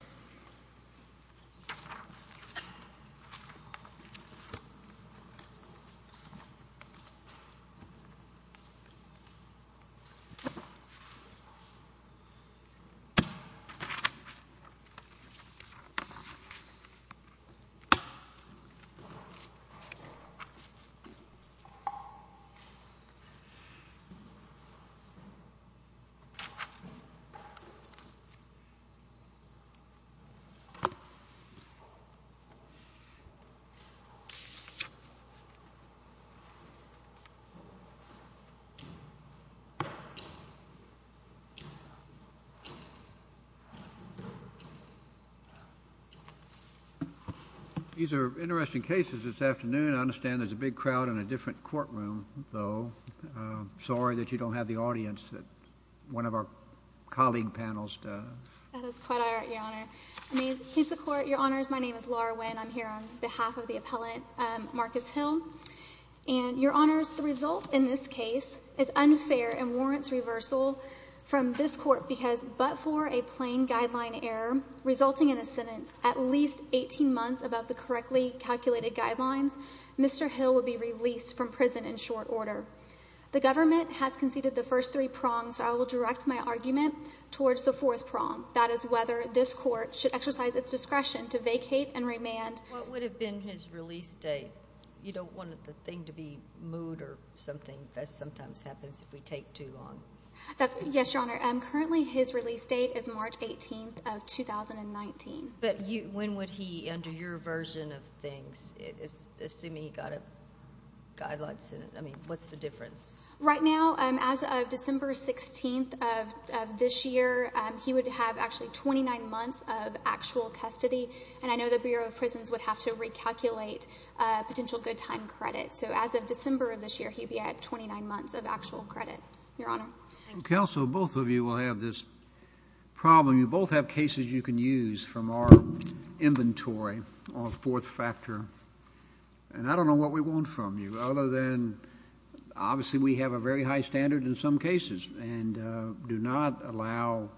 Absolution Passion These are interesting cases this afternoon. I understand there's a big crowd in a different courtroom, though. Sorry that you don't have the audience that one of our colleague panels does. That is quite all right, Your Honor. Your Honor, my name is Laura Wynn. I'm here on behalf of the appellant, Marcus Hill. Your Honor, the result in this case is unfair and warrants reversal from this court because but for a plain guideline error resulting in a sentence at least 18 months above the correctly calculated guidelines, Mr. Hill will be released from prison in short order. The government has conceded the first three prongs, so I will direct my argument towards the fourth prong. That is whether this court should exercise its discretion to vacate and remand. What would have been his release date? You don't want the thing to be moved or something. That sometimes happens if we take too long. Yes, Your Honor. Currently, his release date is March 18th of 2019. But when would he, under your version of things, assuming he got a guideline sentence, I mean, what's the difference? Right now, as of December 16th of this year, he would have actually 29 months of actual custody, and I know the Bureau of Prisons would have to recalculate potential good time credit. So as of December of this year, he'd be at 29 months of actual credit, Your Honor. Counsel, both of you will have this problem. You both have cases you can use from our inventory on a fourth factor, and I don't know what we want from you other than obviously we have a very high standard in some cases and do not allow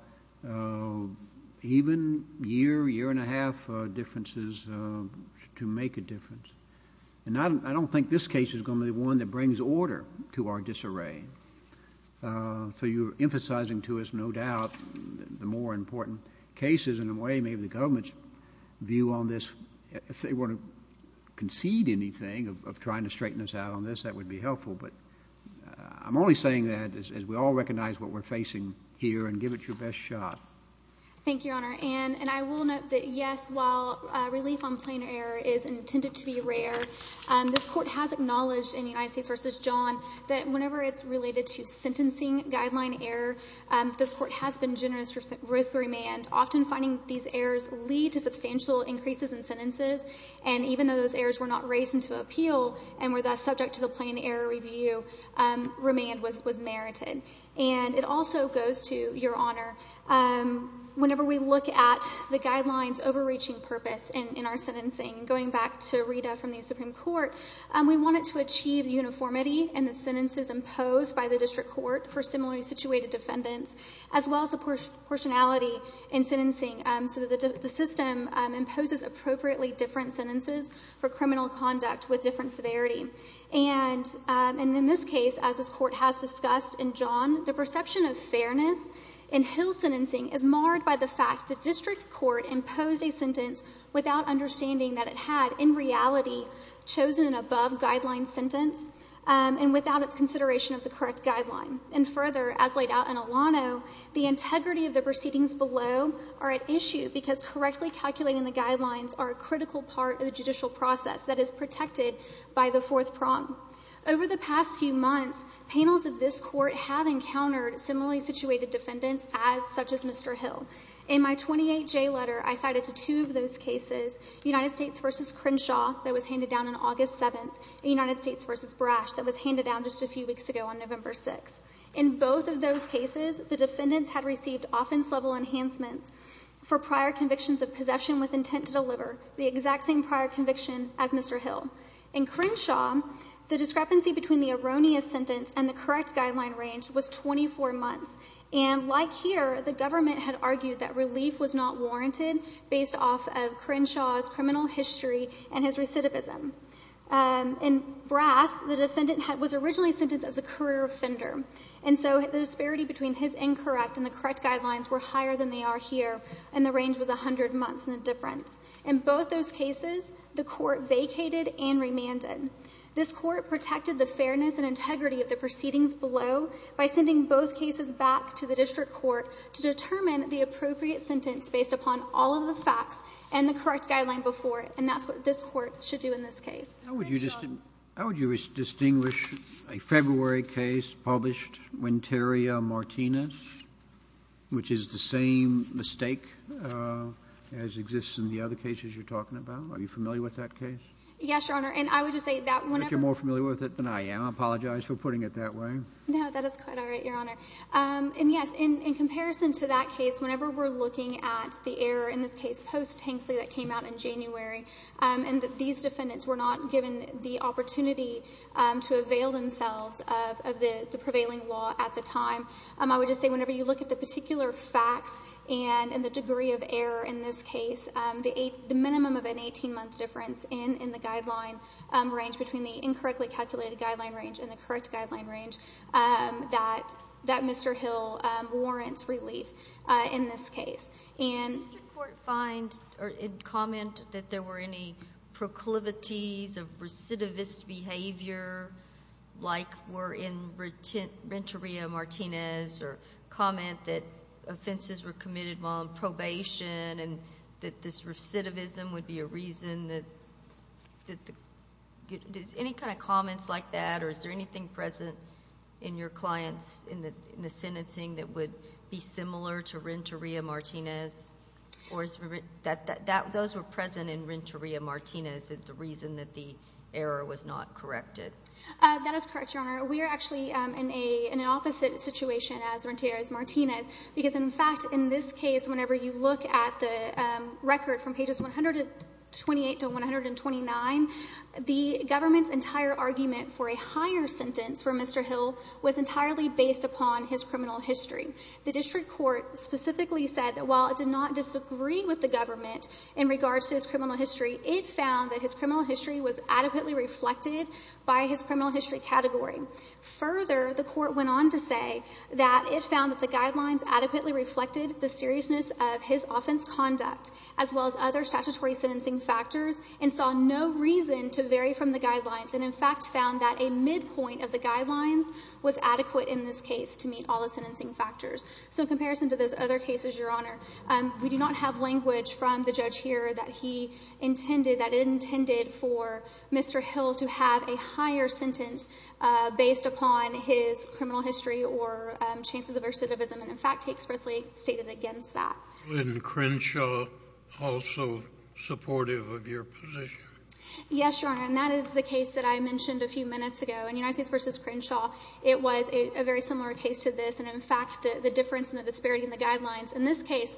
even year, year and a half differences to make a difference. And I don't think this case is going to be one that brings order to our disarray. So you're emphasizing to us, no doubt, the more important cases in a way maybe the government's view on this. If they want to concede anything of trying to straighten us out on this, that would be helpful. But I'm only saying that as we all recognize what we're facing here and give it your best shot. Thank you, Your Honor. And I will note that, yes, while relief on plain error is intended to be rare, this Court has acknowledged in United States v. John that whenever it's related to sentencing guideline error, this Court has been generous with remand, often finding these errors lead to substantial increases in sentences. And even though those errors were not raised into appeal and were thus subject to the plain error review, remand was merited. And it also goes to, Your Honor, whenever we look at the guidelines' overreaching purpose in our sentencing, going back to Rita from the Supreme Court, we want it to achieve uniformity in the sentences imposed by the district court for similarly situated defendants, as well as the proportionality in sentencing so that the system imposes appropriately different sentences for criminal conduct with different severity. And in this case, as this Court has discussed in John, the perception of fairness in Hill sentencing is marred by the fact the district court imposed a sentence without understanding that it had, in reality, chosen an above-guideline sentence and without its consideration of the correct guideline. And further, as laid out in Alano, the integrity of the proceedings below are at issue because correctly calculating the guidelines are a critical part of the judicial process that is protected by the fourth prong. Over the past few months, panels of this Court have encountered similarly situated defendants as such as Mr. Hill. In my 28J letter, I cited to two of those cases, United States v. Crenshaw that was handed down on August 7th and United States v. Brash that was handed down just a few weeks ago on November 6th. In both of those cases, the defendants had received offense-level enhancements for prior convictions of possession with intent to deliver, the exact same prior conviction as Mr. Hill. In Crenshaw, the discrepancy between the erroneous sentence and the correct guideline range was 24 months, and like here, the government had argued that relief was not warranted based off of Crenshaw's criminal history and his recidivism. In Brash, the defendant was originally sentenced as a career offender, and so the disparity between his incorrect and the correct guidelines were higher than they are here, and the range was 100 months in the difference. In both those cases, the Court vacated and remanded. This Court protected the fairness and integrity of the proceedings below by sending both cases back to the district court to determine the appropriate sentence based upon all of the facts and the correct guideline before it, and that's what this Court should do in this case. How would you distinguish a February case published when Terri Martinez, which is the same mistake as exists in the other cases you're talking about? Are you familiar with that case? Yes, Your Honor, and I would just say that whenever— I think you're more familiar with it than I am. I apologize for putting it that way. No, that is quite all right, Your Honor. And, yes, in comparison to that case, whenever we're looking at the error, in this case post-Tanksley that came out in January, and that these defendants were not given the opportunity to avail themselves of the prevailing law at the time, I would just say whenever you look at the particular facts and the degree of error in this case, the minimum of an 18-month difference in the guideline range between the incorrectly calculated guideline range and the correct guideline range, that Mr. Hill warrants relief in this case. And— Did the Court find or comment that there were any proclivities of recidivist behavior, like were in Renteria-Martinez, or comment that offenses were committed while on probation and that this recidivism would be a reason that— Any kind of comments like that? Or is there anything present in your clients in the sentencing that would be similar to Renteria-Martinez? Or those were present in Renteria-Martinez as the reason that the error was not corrected? That is correct, Your Honor. We are actually in an opposite situation as Renteria-Martinez, because, in fact, in this case, whenever you look at the record from pages 128 to 129, the government's entire argument for a higher sentence for Mr. Hill was entirely based upon his criminal history. The district court specifically said that while it did not disagree with the government in regards to his criminal history, it found that his criminal history was adequately reflected by his criminal history category. Further, the court went on to say that it found that the guidelines adequately reflected the seriousness of his offense conduct, as well as other statutory sentencing factors, and saw no reason to vary from the guidelines, and, in fact, found that a midpoint of the guidelines was adequate in this case to meet all the sentencing factors. So in comparison to those other cases, Your Honor, we do not have language from the judge here that he intended, that it intended for Mr. Hill to have a higher sentence based upon his criminal history or chances of recidivism, and, in fact, he expressly stated against that. And Crenshaw also supportive of your position? Yes, Your Honor, and that is the case that I mentioned a few minutes ago. In United States v. Crenshaw, it was a very similar case to this, and, in fact, the difference and the disparity in the guidelines. In this case,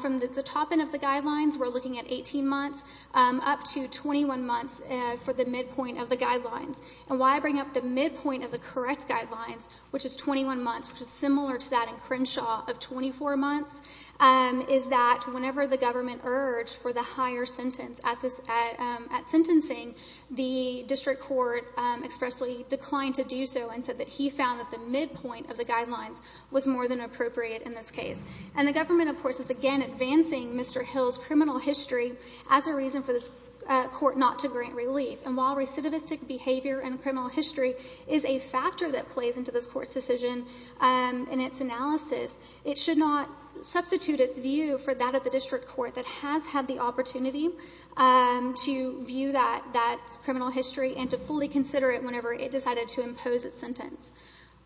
from the top end of the guidelines, we're looking at 18 months up to 21 months for the midpoint of the guidelines. And why I bring up the midpoint of the correct guidelines, which is 21 months, which is similar to that in Crenshaw of 24 months, is that whenever the government urged for the higher sentence at sentencing, the district court expressly declined to do so and said that he found that the midpoint of the guidelines was more than appropriate in this case. And the government, of course, is, again, advancing Mr. Hill's criminal history as a reason for this court not to grant relief. And while recidivistic behavior and criminal history is a factor that plays into this court's decision in its analysis, it should not substitute its view for that of the district court that has had the opportunity to view that criminal history and to fully consider it whenever it decided to impose its sentence.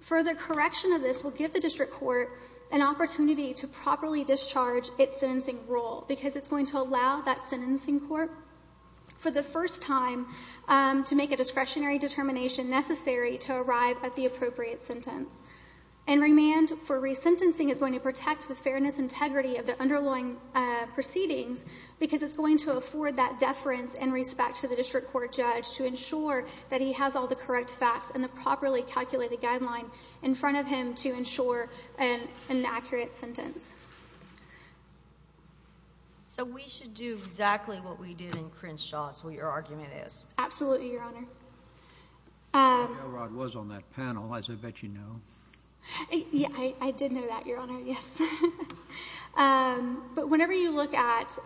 Further correction of this will give the district court an opportunity to properly discharge its sentencing rule because it's going to allow that sentencing court for the first time to make a discretionary determination necessary to arrive at the appropriate sentence. And remand for resentencing is going to protect the fairness and integrity of the underlying proceedings because it's going to afford that deference in respect to the district court judge to ensure that he has all the correct facts and the properly calculated guideline in front of him to ensure an accurate sentence. So we should do exactly what we did in Crenshaw, is what your argument is? Absolutely, Your Honor. I don't know where Elrod was on that panel, as I bet you know. Yeah, I did know that, Your Honor, yes. But whenever you look at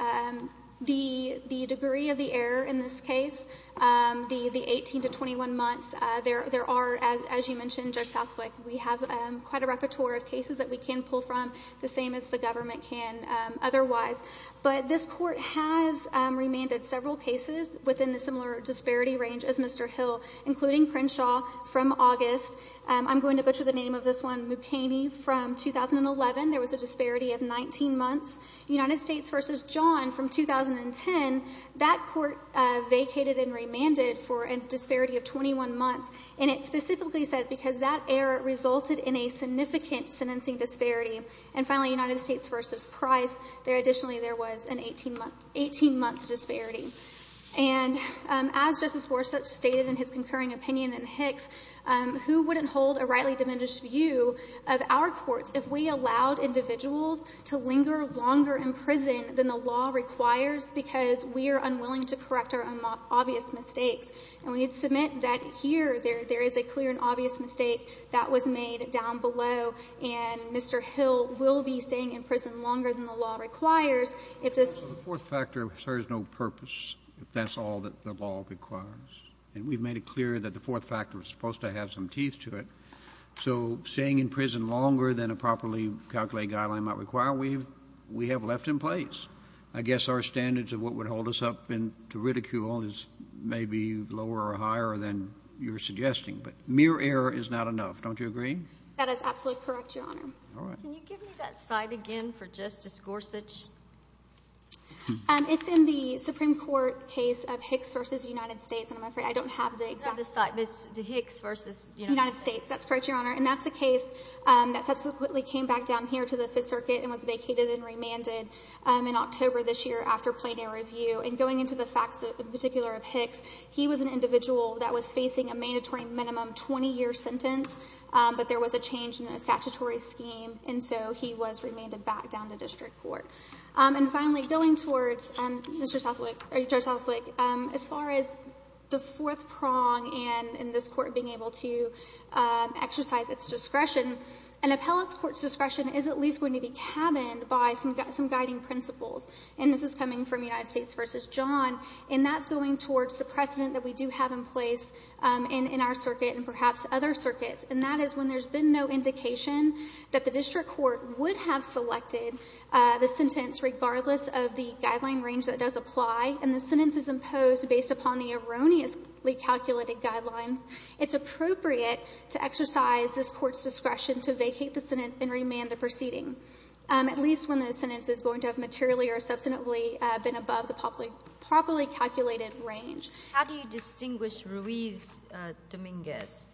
the degree of the error in this case, the 18 to 21 months, there are, as you mentioned, Judge Southwick, we have quite a repertoire of cases that we can pull from, the same as the government can otherwise. But this court has remanded several cases within the similar disparity range as Mr. Hill, including Crenshaw from August. I'm going to butcher the name of this one, Mukaney from 2011. There was a disparity of 19 months. United States v. John from 2010, that court vacated and remanded for a disparity of 21 months, and it specifically said because that error resulted in a significant sentencing disparity. And finally, United States v. Price, there additionally there was an 18-month disparity. And as Justice Gorsuch stated in his concurring opinion in Hicks, who wouldn't hold a rightly diminished view of our courts if we allowed individuals to linger longer in prison than the law requires because we are unwilling to correct our obvious mistakes. And we submit that here there is a clear and obvious mistake that was made down below, and Mr. Hill will be staying in prison longer than the law requires if this — So the fourth factor serves no purpose if that's all that the law requires. And we've made it clear that the fourth factor is supposed to have some teeth to it. So staying in prison longer than a properly calculated guideline might require, we have left in place. I guess our standards of what would hold us up to ridicule is maybe lower or higher than you're suggesting. But mere error is not enough. Don't you agree? That is absolutely correct, Your Honor. All right. Can you give me that site again for Justice Gorsuch? It's in the Supreme Court case of Hicks v. United States. And I'm afraid I don't have the exact — Not the site. It's the Hicks v. United States. United States. That's correct, Your Honor. And that's the case that subsequently came back down here to the Fifth Circuit and was vacated and remanded in October this year after plaintiff review. And going into the facts in particular of Hicks, he was an individual that was facing a mandatory minimum 20-year sentence. But there was a change in the statutory scheme, and so he was remanded back down to district court. And finally, going towards Judge Southwick, as far as the fourth prong in this court being able to exercise its discretion, an appellate's court's discretion is at least going to be cabined by some guiding principles. And this is coming from United States v. John. And that's going towards the precedent that we do have in place in our circuit and perhaps other circuits. And that is when there's been no indication that the district court would have selected the sentence regardless of the guideline range that does apply and the sentence is imposed based upon the erroneously calculated guidelines, it's appropriate to exercise this court's discretion to vacate the sentence and remand the proceeding, at least when the sentence is going to have materially or substantively been above the properly calculated range. How do you distinguish Ruiz-Dominguez?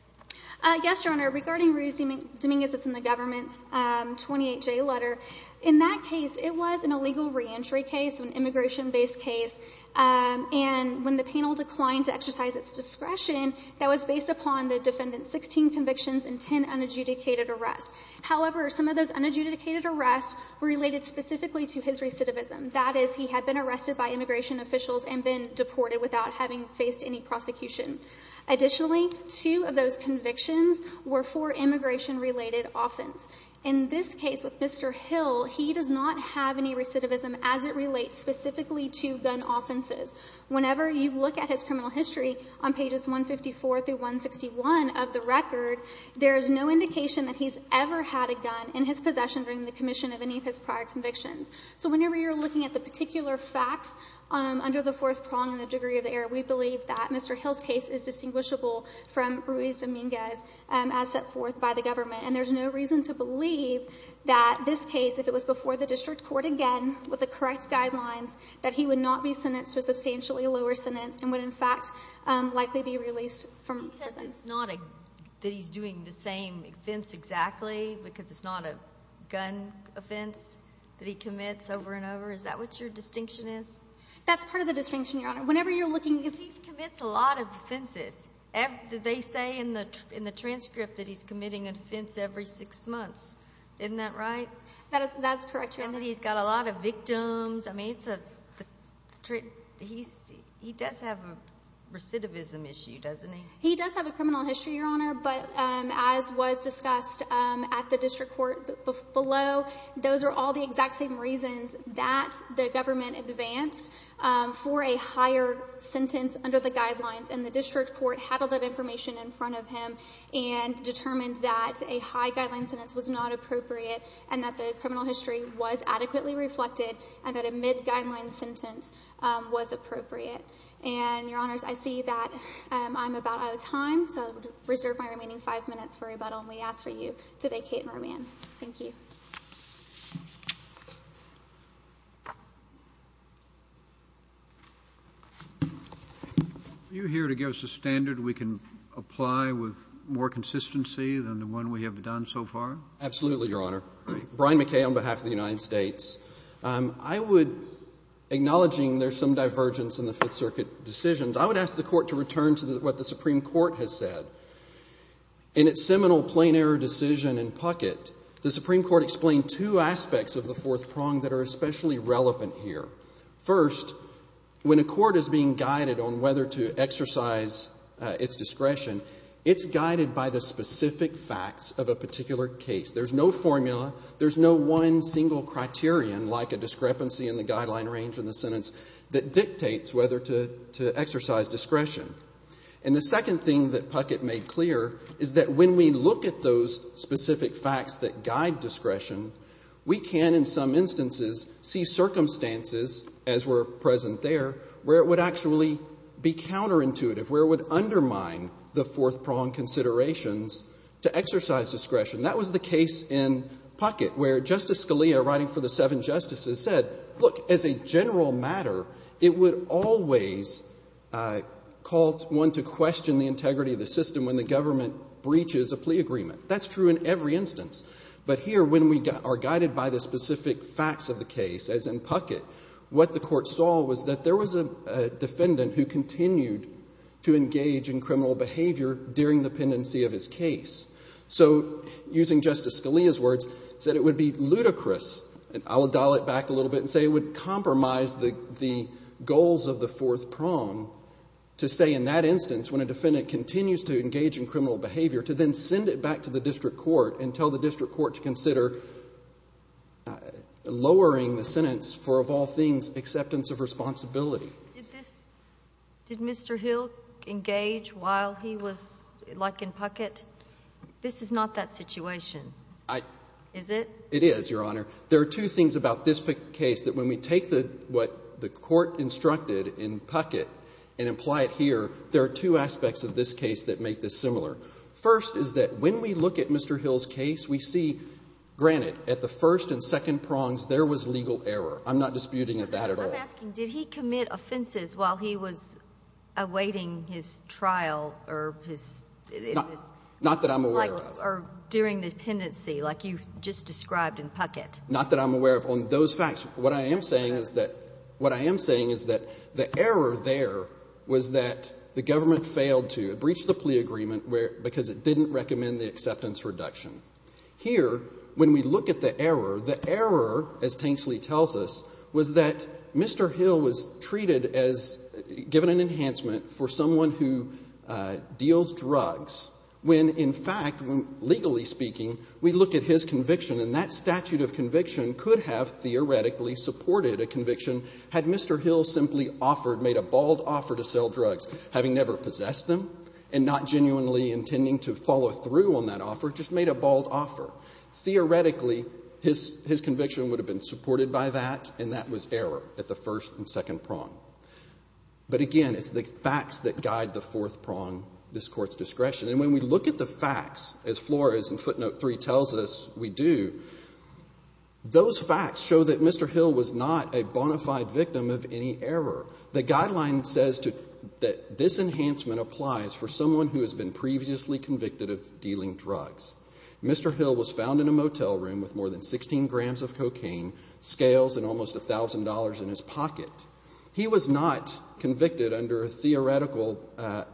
Yes, Your Honor. Regarding Ruiz-Dominguez, it's in the government's 28-J letter. In that case, it was an illegal reentry case, an immigration-based case. And when the panel declined to exercise its discretion, that was based upon the defendant's 16 convictions and 10 unadjudicated arrests. However, some of those unadjudicated arrests were related specifically to his recidivism. That is, he had been arrested by immigration officials and been deported without having faced any prosecution. Additionally, two of those convictions were for immigration-related offense. In this case with Mr. Hill, he does not have any recidivism as it relates specifically to gun offenses. Whenever you look at his criminal history on pages 154 through 161 of the record, there is no indication that he's ever had a gun in his possession during the commission of any of his prior convictions. So whenever you're looking at the particular facts under the fourth prong in the degree of error, we believe that Mr. Hill's case is distinguishable from Ruiz-Dominguez as set forth by the government. And there's no reason to believe that this case, if it was before the district court again with the correct guidelines, that he would not be sentenced to a substantially lower sentence and would, in fact, likely be released from prison. It's not that he's doing the same offense exactly because it's not a gun offense that he commits over and over. Is that what your distinction is? That's part of the distinction, Your Honor. Whenever you're looking... He commits a lot of offenses. They say in the transcript that he's committing an offense every six months. Isn't that right? That is correct, Your Honor. And that he's got a lot of victims. I mean, he does have a recidivism issue, doesn't he? He does have a criminal history, Your Honor. But as was discussed at the district court below, those are all the exact same reasons that the government advanced for a higher sentence under the guidelines, and the district court handled that information in front of him and determined that a high guideline sentence was not appropriate and that the criminal history was adequately reflected and that a mid-guideline sentence was appropriate. And, Your Honors, I see that I'm about out of time, so I would reserve my remaining five minutes for rebuttal, and we ask for you to vacate and remand. Thank you. Are you here to give us a standard we can apply with more consistency than the one we have done so far? Absolutely, Your Honor. Brian McKay on behalf of the United States. I would, acknowledging there's some divergence in the Fifth Circuit decisions, I would ask the Court to return to what the Supreme Court has said. In its seminal plain error decision in Puckett, the Supreme Court explained two aspects of the fourth prong that are especially relevant here. First, when a court is being guided on whether to exercise its discretion, it's guided by the specific facts of a particular case. There's no formula. There's no one single criterion, like a discrepancy in the guideline range in the sentence, that dictates whether to exercise discretion. And the second thing that Puckett made clear is that when we look at those specific facts that guide discretion, we can, in some instances, see circumstances, as were present there, where it would actually be counterintuitive, where it would undermine the fourth prong considerations to exercise discretion. That was the case in Puckett, where Justice Scalia, writing for the seven justices, said, look, as a general matter, it would always call one to question the integrity of the system when the government breaches a plea agreement. That's true in every instance. But here, when we are guided by the specific facts of the case, as in Puckett, what the Court saw was that there was a defendant who continued to engage in criminal behavior during the pendency of his case. So, using Justice Scalia's words, said it would be ludicrous, and I will dial it back a little bit and say it would compromise the goals of the fourth prong, to say in that instance, when a defendant continues to engage in criminal behavior, to then send it back to the district court and tell the district court to consider lowering the sentence for, of all things, acceptance of responsibility. Did Mr. Hill engage while he was, like in Puckett? This is not that situation, is it? It is, Your Honor. There are two things about this case that when we take what the Court instructed in Puckett and apply it here, there are two aspects of this case that make this similar. First is that when we look at Mr. Hill's case, we see, granted, at the first and second prongs, there was legal error. I'm not disputing that at all. I'm asking, did he commit offenses while he was awaiting his trial or his – Not that I'm aware of. Or during the pendency, like you just described in Puckett. Not that I'm aware of. On those facts, what I am saying is that the error there was that the government failed to breach the plea agreement because it didn't recommend the acceptance reduction. Here, when we look at the error, the error, as Tanksley tells us, was that Mr. Hill was treated as – given an enhancement for someone who deals drugs when, in fact, legally speaking, we look at his conviction, and that statute of conviction could have theoretically supported a conviction had Mr. Hill simply offered, made a bald offer to sell drugs, having never possessed them and not genuinely intending to follow through on that offer, just made a bald offer. Theoretically, his conviction would have been supported by that, and that was error at the first and second prong. But again, it's the facts that guide the fourth prong, this Court's discretion. And when we look at the facts, as Flores in footnote 3 tells us we do, those facts show that Mr. Hill was not a bona fide victim of any error. The guideline says that this enhancement applies for someone who has been previously convicted of dealing drugs. Mr. Hill was found in a motel room with more than 16 grams of cocaine, scales and almost $1,000 in his pocket. He was not convicted under a theoretical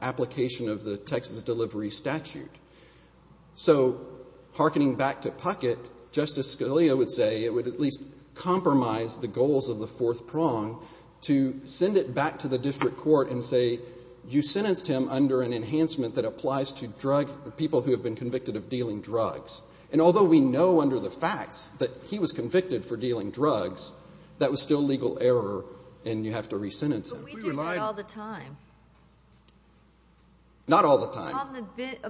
application of the Texas Delivery Statute. So harkening back to Puckett, Justice Scalia would say it would at least compromise the goals of the fourth prong to send it back to the district court and say, you sentenced him under an enhancement that applies to drug – people who have been convicted of dealing drugs. And although we know under the facts that he was convicted for dealing drugs, that was still legal error and you have to re-sentence him. But we do that all the time. Not all the time.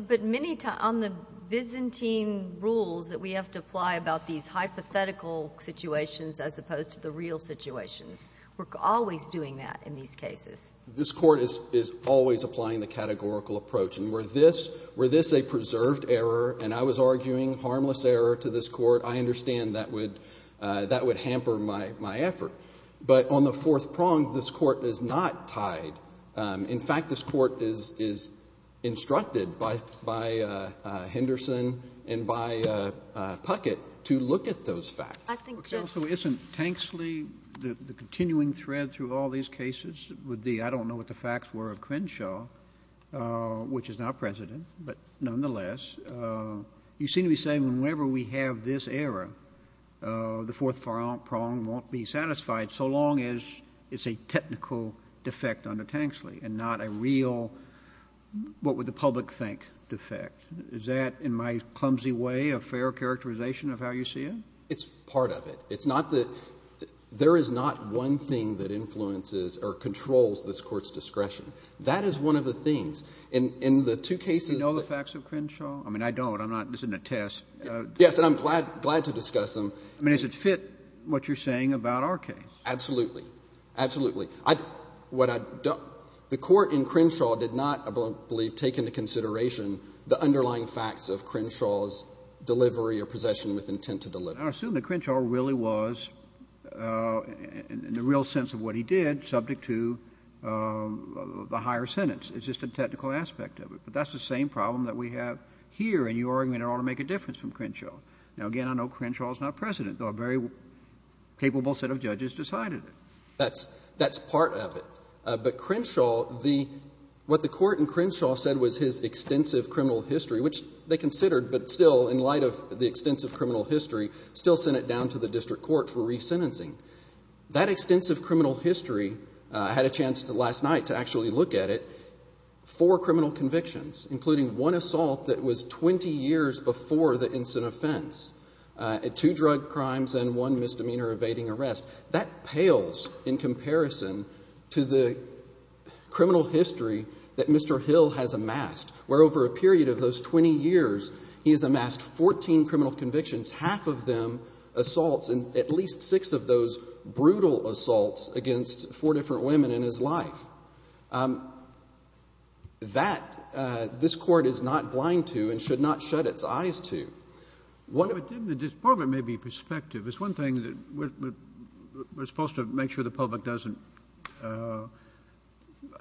But many times – on the Byzantine rules that we have to apply about these hypothetical situations as opposed to the real situations. We're always doing that in these cases. This Court is always applying the categorical approach. Were this – were this a preserved error and I was arguing harmless error to this court, I understand that would – that would hamper my effort. But on the fourth prong, this Court is not tied. In fact, this Court is instructed by Henderson and by Puckett to look at those facts. I think just – Okay. Also, isn't Tanksley the continuing thread through all these cases? I don't know what the facts were of Crenshaw, which is now president, but nonetheless. You seem to be saying whenever we have this error, the fourth prong won't be satisfied so long as it's a technical defect under Tanksley and not a real what would the public think defect. Is that, in my clumsy way, a fair characterization of how you see it? It's part of it. It's not the – there is not one thing that influences or controls this Court's discretion. That is one of the things. In the two cases that – Do you know the facts of Crenshaw? I mean, I don't. I'm not – this isn't a test. Yes, and I'm glad – glad to discuss them. I mean, does it fit what you're saying about our case? Absolutely. Absolutely. I – what I – the Court in Crenshaw did not, I believe, take into consideration the underlying facts of Crenshaw's delivery or possession with intent to deliver. But I assume that Crenshaw really was, in the real sense of what he did, subject to the higher sentence. It's just a technical aspect of it. But that's the same problem that we have here, and your argument ought to make a difference from Crenshaw. Now, again, I know Crenshaw is not President, though a very capable set of judges decided it. That's – that's part of it. But Crenshaw, the – what the Court in Crenshaw said was his extensive criminal history, which they considered, but still, in light of the extensive criminal history, still sent it down to the district court for resentencing. That extensive criminal history – I had a chance last night to actually look at it – four criminal convictions, including one assault that was 20 years before the instant offense, two drug crimes, and one misdemeanor evading arrest. That pales in comparison to the criminal history that Mr. Hill has amassed, where over a period of those 20 years, he has amassed 14 criminal convictions, half of them assaults, and at least six of those brutal assaults against four different women in his life. That, this Court is not blind to and should not shut its eyes to. One of the – But then the department may be perspective. It's one thing that we're supposed to make sure the public doesn't –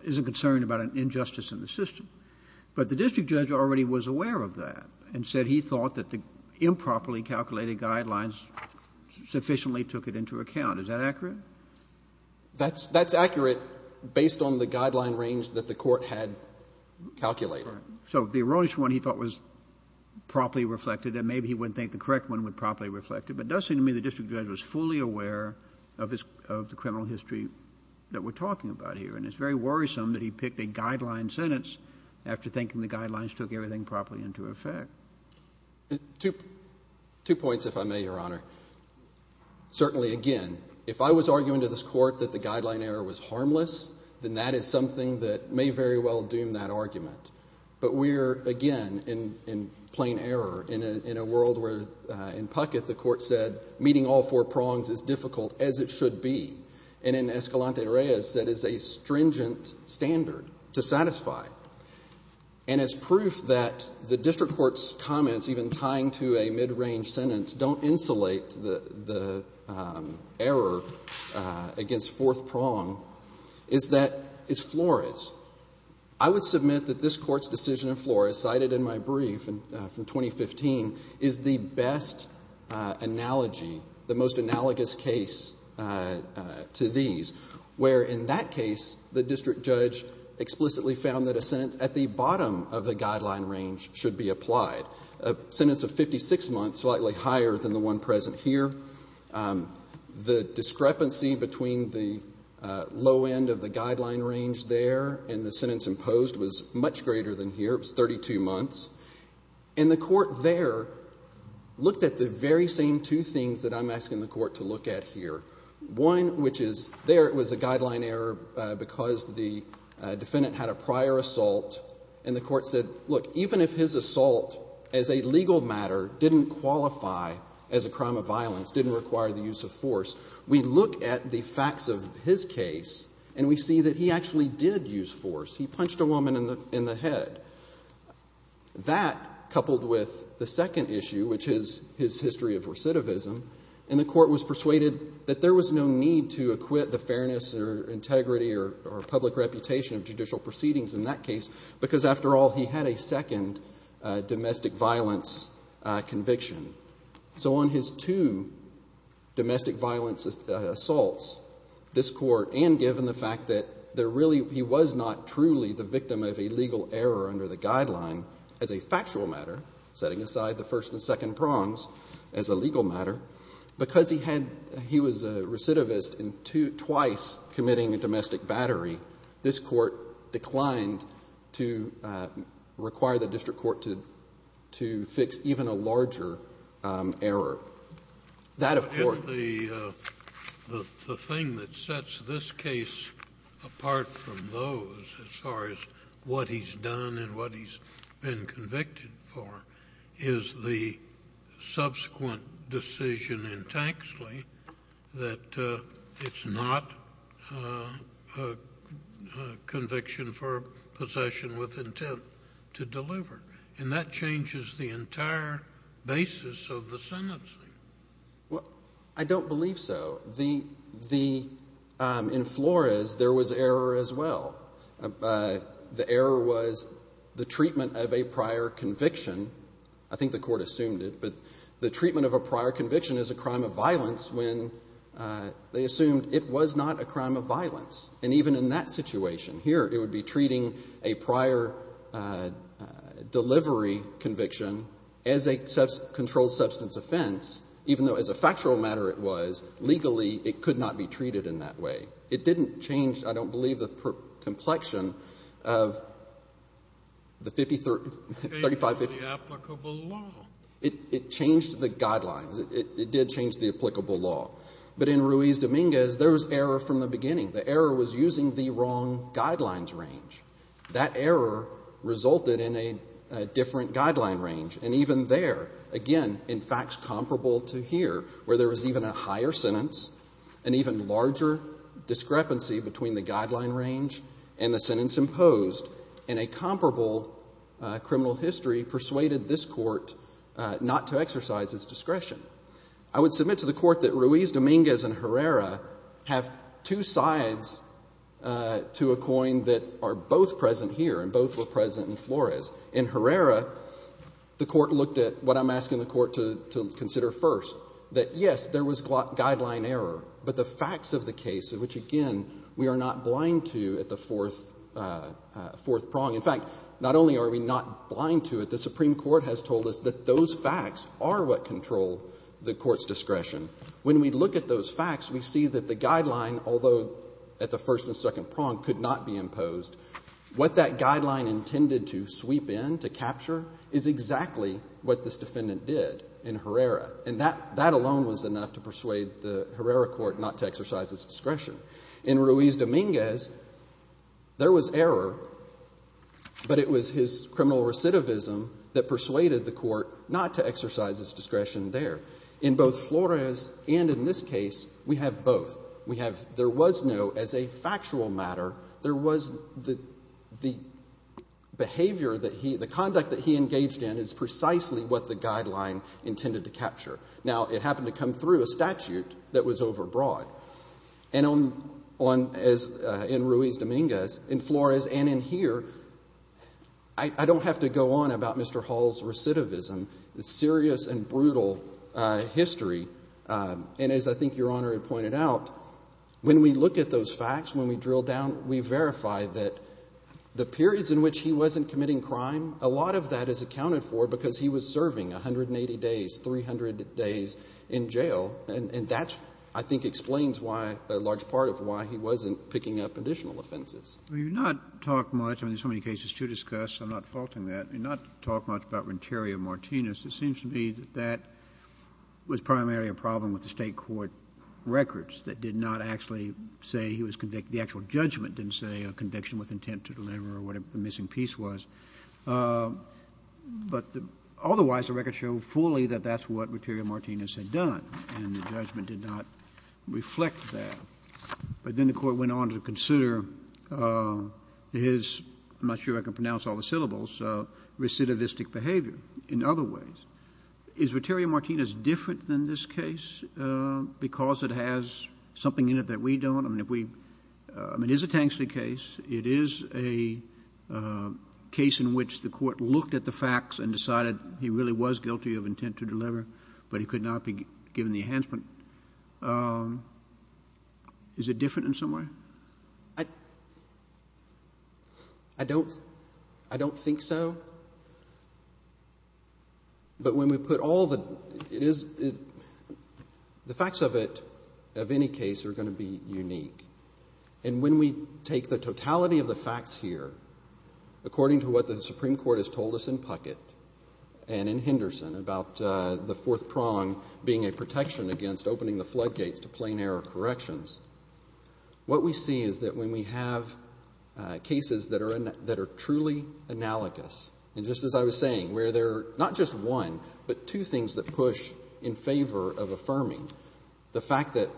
isn't concerned about an injustice in the system. But the district judge already was aware of that and said he thought that the improperly calculated guidelines sufficiently took it into account. Is that accurate? That's – that's accurate based on the guideline range that the Court had calculated. So the erroneous one he thought was properly reflected, and maybe he wouldn't think the correct one would properly reflect it. But it does seem to me the district judge was fully aware of his – of the criminal history that we're talking about here. And it's very worrisome that he picked a guideline sentence after thinking the guidelines took everything properly into effect. Two points, if I may, Your Honor. Certainly, again, if I was arguing to this Court that the guideline error was harmless, then that is something that may very well doom that argument. But we're, again, in – in plain error in a world where in Puckett the Court said meeting all four prongs is difficult as it should be. And in Escalante-Reyes, that is a stringent standard to satisfy. And as proof that the district court's comments, even tying to a mid-range sentence, don't insulate the – the error against fourth prong is that it's Flores. I would submit that this Court's decision in Flores, cited in my brief from 2015, is the best analogy, the most analogous case to these, where in that case the district judge explicitly found that a sentence at the bottom of the guideline range should be applied. A sentence of 56 months, slightly higher than the one present here. The discrepancy between the low end of the guideline range there and the sentence imposed was much greater than here. It was 32 months. And the Court there looked at the very same two things that I'm asking the Court to look at here. One, which is there it was a guideline error because the defendant had a prior assault. And the Court said, look, even if his assault as a legal matter didn't qualify as a crime of violence, didn't require the use of force, we look at the facts of his case and we see that he actually did use force. He punched a woman in the head. That, coupled with the second issue, which is his history of recidivism, and the Court was persuaded that there was no need to acquit the fairness or integrity or public reputation of judicial proceedings in that case because, after all, he had a second domestic violence conviction. So on his two domestic violence assaults, this Court, and given the fact that there really, he was not truly the victim of a legal error under the guideline as a factual matter, setting aside the first and second prongs as a legal matter, because he was a recidivist and twice committing a domestic battery, this Court declined to require the district court to fix even a larger error. The thing that sets this case apart from those as far as what he's done and what he's been convicted for is the subsequent decision in Taxley that it's not a conviction for possession with intent to deliver. And that changes the entire basis of the sentencing. Well, I don't believe so. In Flores, there was error as well. The error was the treatment of a prior conviction. I think the Court assumed it, but the treatment of a prior conviction is a crime of violence when they assumed it was not a crime of violence. And even in that situation here, it would be treating a prior delivery conviction as a controlled substance offense, even though as a factual matter it was, legally it could not be treated in that way. It didn't change, I don't believe, the complexion of the 50, 35, 50. It changed the applicable law. It changed the guidelines. It did change the applicable law. But in Ruiz-Dominguez, there was error from the beginning. The error was using the wrong guidelines range. That error resulted in a different guideline range. And even there, again, in facts comparable to here, where there was even a higher sentence, an even larger discrepancy between the guideline range and the sentence imposed, and a comparable criminal history persuaded this Court not to exercise its discretion. I would submit to the Court that Ruiz-Dominguez and Herrera have two sides to a coin that are both present here and both were present in Flores. In Herrera, the Court looked at what I'm asking the Court to consider first, that, yes, there was guideline error, but the facts of the case, which, again, we are not blind to at the fourth prong. In fact, not only are we not blind to it, the Supreme Court has told us that those facts are what control the Court's discretion. When we look at those facts, we see that the guideline, although at the first and second prong could not be imposed, what that guideline intended to sweep in, to capture, is exactly what this defendant did in Herrera. And that alone was enough to persuade the Herrera Court not to exercise its discretion. In Ruiz-Dominguez, there was error, but it was his criminal recidivism that persuaded the Court not to exercise its discretion there. In both Flores and in this case, we have both. We have, there was no, as a factual matter, there was the behavior that he, the conduct that he engaged in is precisely what the guideline intended to capture. Now, it happened to come through a statute that was overbroad. And on, as in Ruiz-Dominguez, in Flores and in here, I don't have to go on about Mr. Hall's recidivism. It's serious and brutal history. And as I think Your Honor had pointed out, when we look at those facts, when we drill down, we verify that the periods in which he wasn't committing crime, a lot of that is accounted for because he was serving 180 days, 300 days in jail. And that, I think, explains why, a large part of why he wasn't picking up additional offenses. Kennedy. Well, you've not talked much. I mean, there's so many cases to discuss. I'm not faulting that. You've not talked much about Renteria-Martinez. It seems to me that that was primarily a problem with the State court records that did not actually say he was convicted. The actual judgment didn't say a conviction with intent to deliver or whatever the missing piece was. But otherwise, the records show fully that that's what Renteria-Martinez had done. And the judgment did not reflect that. But then the court went on to consider his, I'm not sure I can pronounce all the syllables, recidivistic behavior in other ways. Is Renteria-Martinez different than this case because it has something in it that we don't? I mean, if we, I mean, it is a Tanksley case. It is a case in which the court looked at the facts and decided he really was guilty of intent to deliver. But he could not be given the enhancement. Is it different in some way? I don't think so. But when we put all the, it is, the facts of it, of any case, are going to be unique. And when we take the totality of the facts here, according to what the Supreme Court has told us in Puckett and in Henderson about the fourth prong being a protection against opening the floodgates to plain error corrections, what we see is that when we have cases that are truly analogous, and just as I was saying, where there are not just one, but two things that push in favor of affirming, the fact that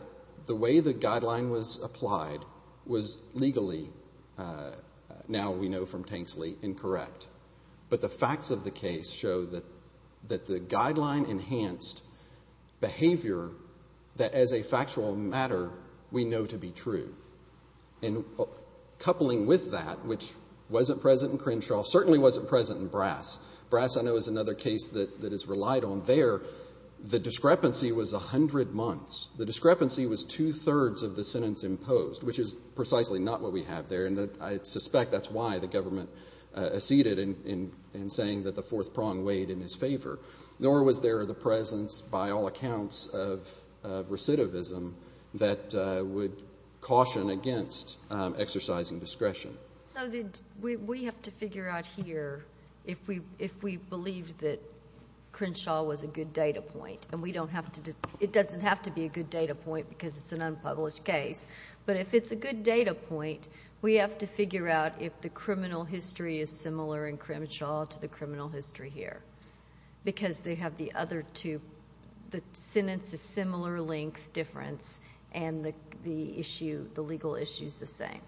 the way the guideline was applied was legally, now we know from Tanksley, incorrect. But the facts of the case show that the guideline enhanced behavior that as a factual matter we know to be true. And coupling with that, which wasn't present in Crenshaw, certainly wasn't present in Brass. Brass, I know, is another case that is relied on there. The discrepancy was 100 months. The discrepancy was two-thirds of the sentence imposed, which is precisely not what we have there. And I suspect that's why the government acceded in saying that the fourth prong weighed in his favor. Nor was there the presence, by all accounts, of recidivism that would caution against exercising discretion. So we have to figure out here if we believe that Crenshaw was a good data point. And it doesn't have to be a good data point because it's an unpublished case. But if it's a good data point, we have to figure out if the criminal history is similar in Crenshaw to the criminal history here because they have the other two. The sentence is similar length difference and the legal issue is the same.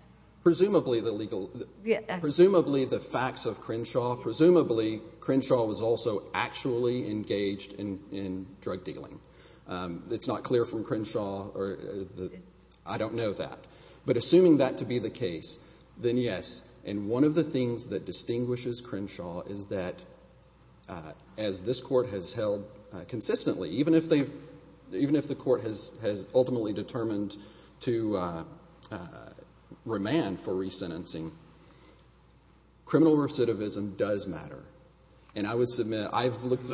Presumably the facts of Crenshaw, presumably Crenshaw was also actually engaged in drug dealing. It's not clear from Crenshaw. I don't know that. But assuming that to be the case, then yes. And one of the things that distinguishes Crenshaw is that as this Court has held consistently, even if the Court has ultimately determined to remand for resentencing, criminal recidivism does matter. And I would submit I've looked at... It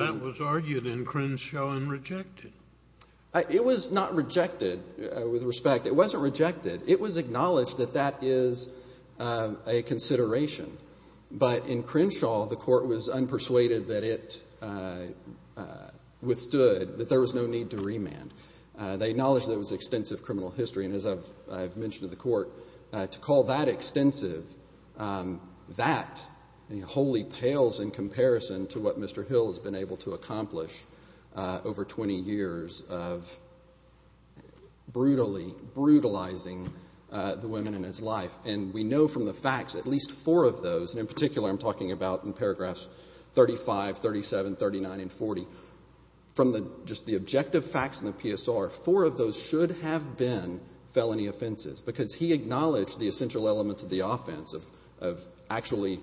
was not rejected with respect. It wasn't rejected. It was acknowledged that that is a consideration. But in Crenshaw, the Court was unpersuaded that it withstood, that there was no need to remand. They acknowledged that it was extensive criminal history. And as I've mentioned to the Court, to call that extensive, that wholly pales in comparison to what Mr. Hill has been able to accomplish over 20 years of brutally brutalizing the women in his life. And we know from the facts at least four of those, and in particular I'm talking about in paragraphs 35, 37, 39, and 40, from just the objective facts in the PSR, four of those should have been felony offenses because he acknowledged the essential elements of the offense, of actually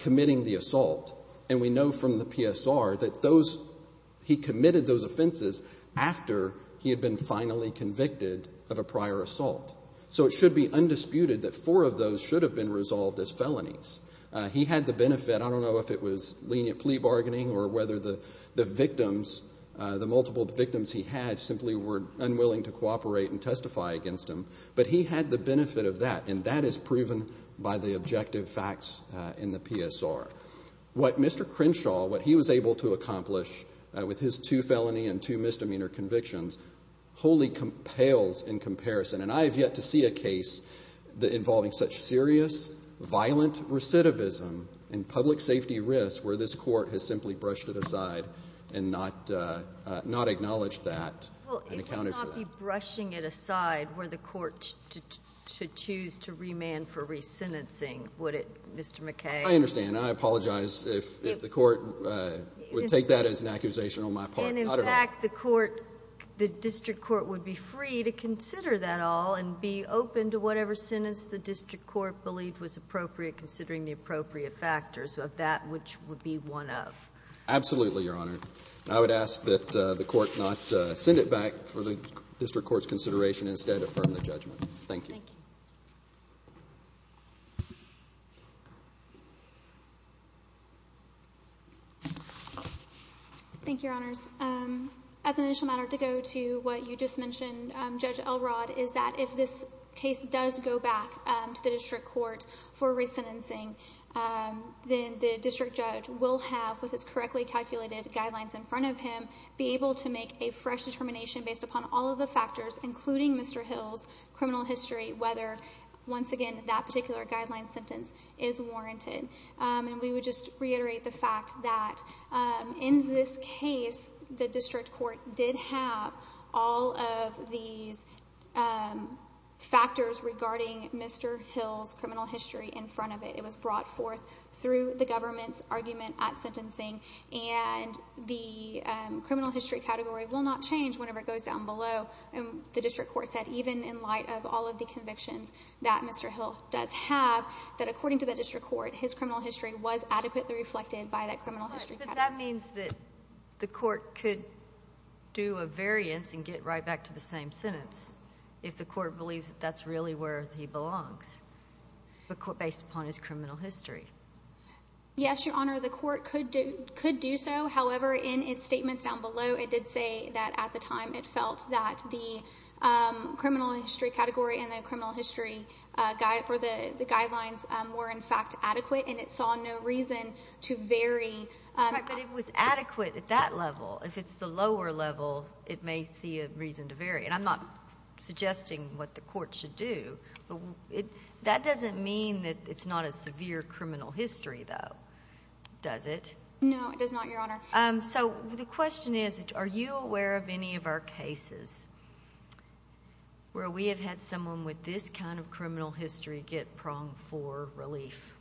committing the assault. And we know from the PSR that he committed those offenses after he had been finally convicted of a prior assault. So it should be undisputed that four of those should have been resolved as felonies. He had the benefit. I don't know if it was lenient plea bargaining or whether the multiple victims he had simply were unwilling to cooperate and testify against him. But he had the benefit of that, and that is proven by the objective facts in the PSR. What Mr. Crenshaw, what he was able to accomplish with his two felony and two misdemeanor convictions wholly pales in comparison. And I have yet to see a case involving such serious, violent recidivism and public safety risks where this Court has simply brushed it aside and not acknowledged that and accounted for that. You wouldn't be brushing it aside were the Court to choose to remand for resentencing, would it, Mr. McKay? I understand. I apologize if the Court would take that as an accusation on my part. And, in fact, the District Court would be free to consider that all and be open to whatever sentence the District Court believed was appropriate considering the appropriate factors of that which would be one of. Absolutely, Your Honor. I would ask that the Court not send it back for the District Court's consideration instead of firm the judgment. Thank you. Thank you. Thank you, Your Honors. As an initial matter to go to what you just mentioned, Judge Elrod, is that if this case does go back to the District Court for resentencing, then the District Judge will have, with his correctly calculated guidelines in front of him, be able to make a fresh determination based upon all of the factors, including Mr. Hill's criminal history, whether, once again, that particular guideline sentence is warranted. And we would just reiterate the fact that, in this case, the District Court did have all of these factors regarding Mr. Hill's criminal history in front of it. It was brought forth through the government's argument at sentencing, and the criminal history category will not change whenever it goes down below. The District Court said, even in light of all of the convictions that Mr. Hill does have, that, according to the District Court, his criminal history was adequately reflected by that criminal history category. But that means that the Court could do a variance and get right back to the same sentence if the Court believes that that's really where he belongs, based upon his criminal history. Yes, Your Honor, the Court could do so. However, in its statements down below, it did say that, at the time, it felt that the criminal history category and the criminal history guidelines were, in fact, adequate, and it saw no reason to vary. But it was adequate at that level. If it's the lower level, it may see a reason to vary. And I'm not suggesting what the Court should do. That doesn't mean that it's not a severe criminal history, though, does it? No, it does not, Your Honor. So the question is, are you aware of any of our cases where we have had someone with this kind of criminal history get pronged for relief?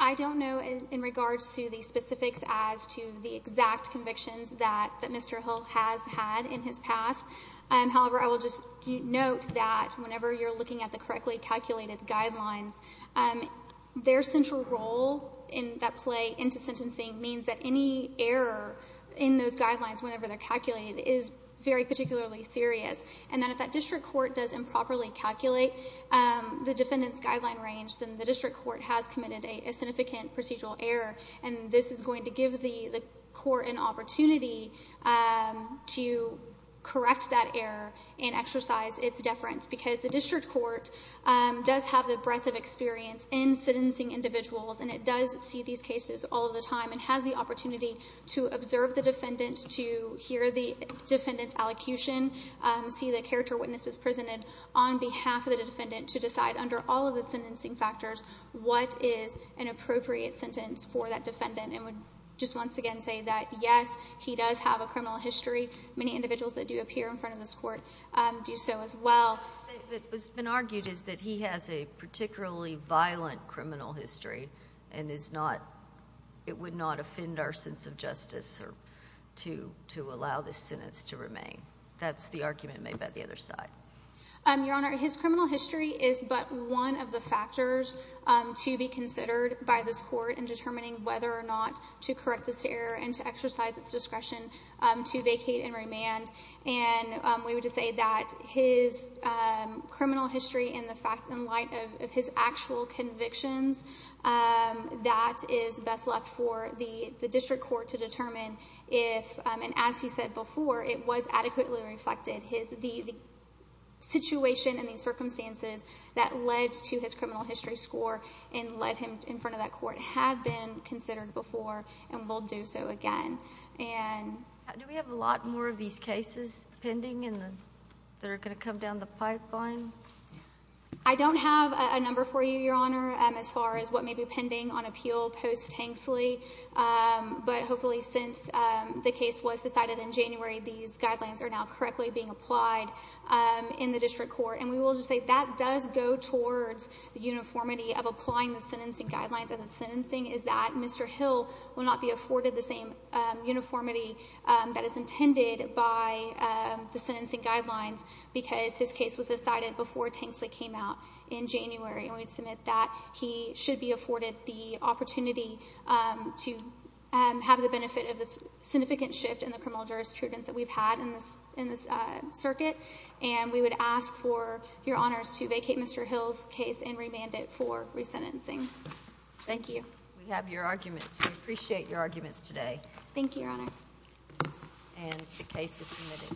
I don't know in regards to the specifics as to the exact convictions that Mr. Hill has had in his past. However, I will just note that whenever you're looking at the correctly calculated guidelines, their central role in that play into sentencing means that any error in those guidelines whenever they're calculated is very particularly serious. And then if that district court does improperly calculate the defendant's guideline range, then the district court has committed a significant procedural error, and this is going to give the court an opportunity to correct that error and exercise its deference because the district court does have the breadth of experience in sentencing individuals, and it does see these cases all the time and has the opportunity to observe the defendant, to hear the defendant's allocution, see the character witnesses presented on behalf of the defendant, to decide under all of the sentencing factors what is an appropriate sentence for that defendant, and would just once again say that, yes, he does have a criminal history. Many individuals that do appear in front of this court do so as well. What's been argued is that he has a particularly violent criminal history and it would not offend our sense of justice to allow this sentence to remain. That's the argument made by the other side. Your Honor, his criminal history is but one of the factors to be considered by this court in determining whether or not to correct this error and to exercise its discretion to vacate and remand. And we would just say that his criminal history in the light of his actual convictions, that is best left for the district court to determine if, and as he said before, it was adequately reflected. The situation and the circumstances that led to his criminal history score and led him in front of that court had been considered before and will do so again. Do we have a lot more of these cases pending that are going to come down the pipeline? I don't have a number for you, Your Honor, as far as what may be pending on appeal post-Tanksley. But hopefully since the case was decided in January, these guidelines are now correctly being applied in the district court. And we will just say that does go towards the uniformity of applying the sentencing guidelines. And the sentencing is that Mr. Hill will not be afforded the same uniformity that is intended by the sentencing guidelines because his case was decided before Tanksley came out in January. And we would submit that he should be afforded the opportunity to have the benefit of the significant shift in the criminal jurisprudence that we've had in this circuit. And we would ask for your honors to vacate Mr. Hill's case and remand it for resentencing. Thank you. We have your arguments. We appreciate your arguments today. Thank you, Your Honor. And the case is submitted.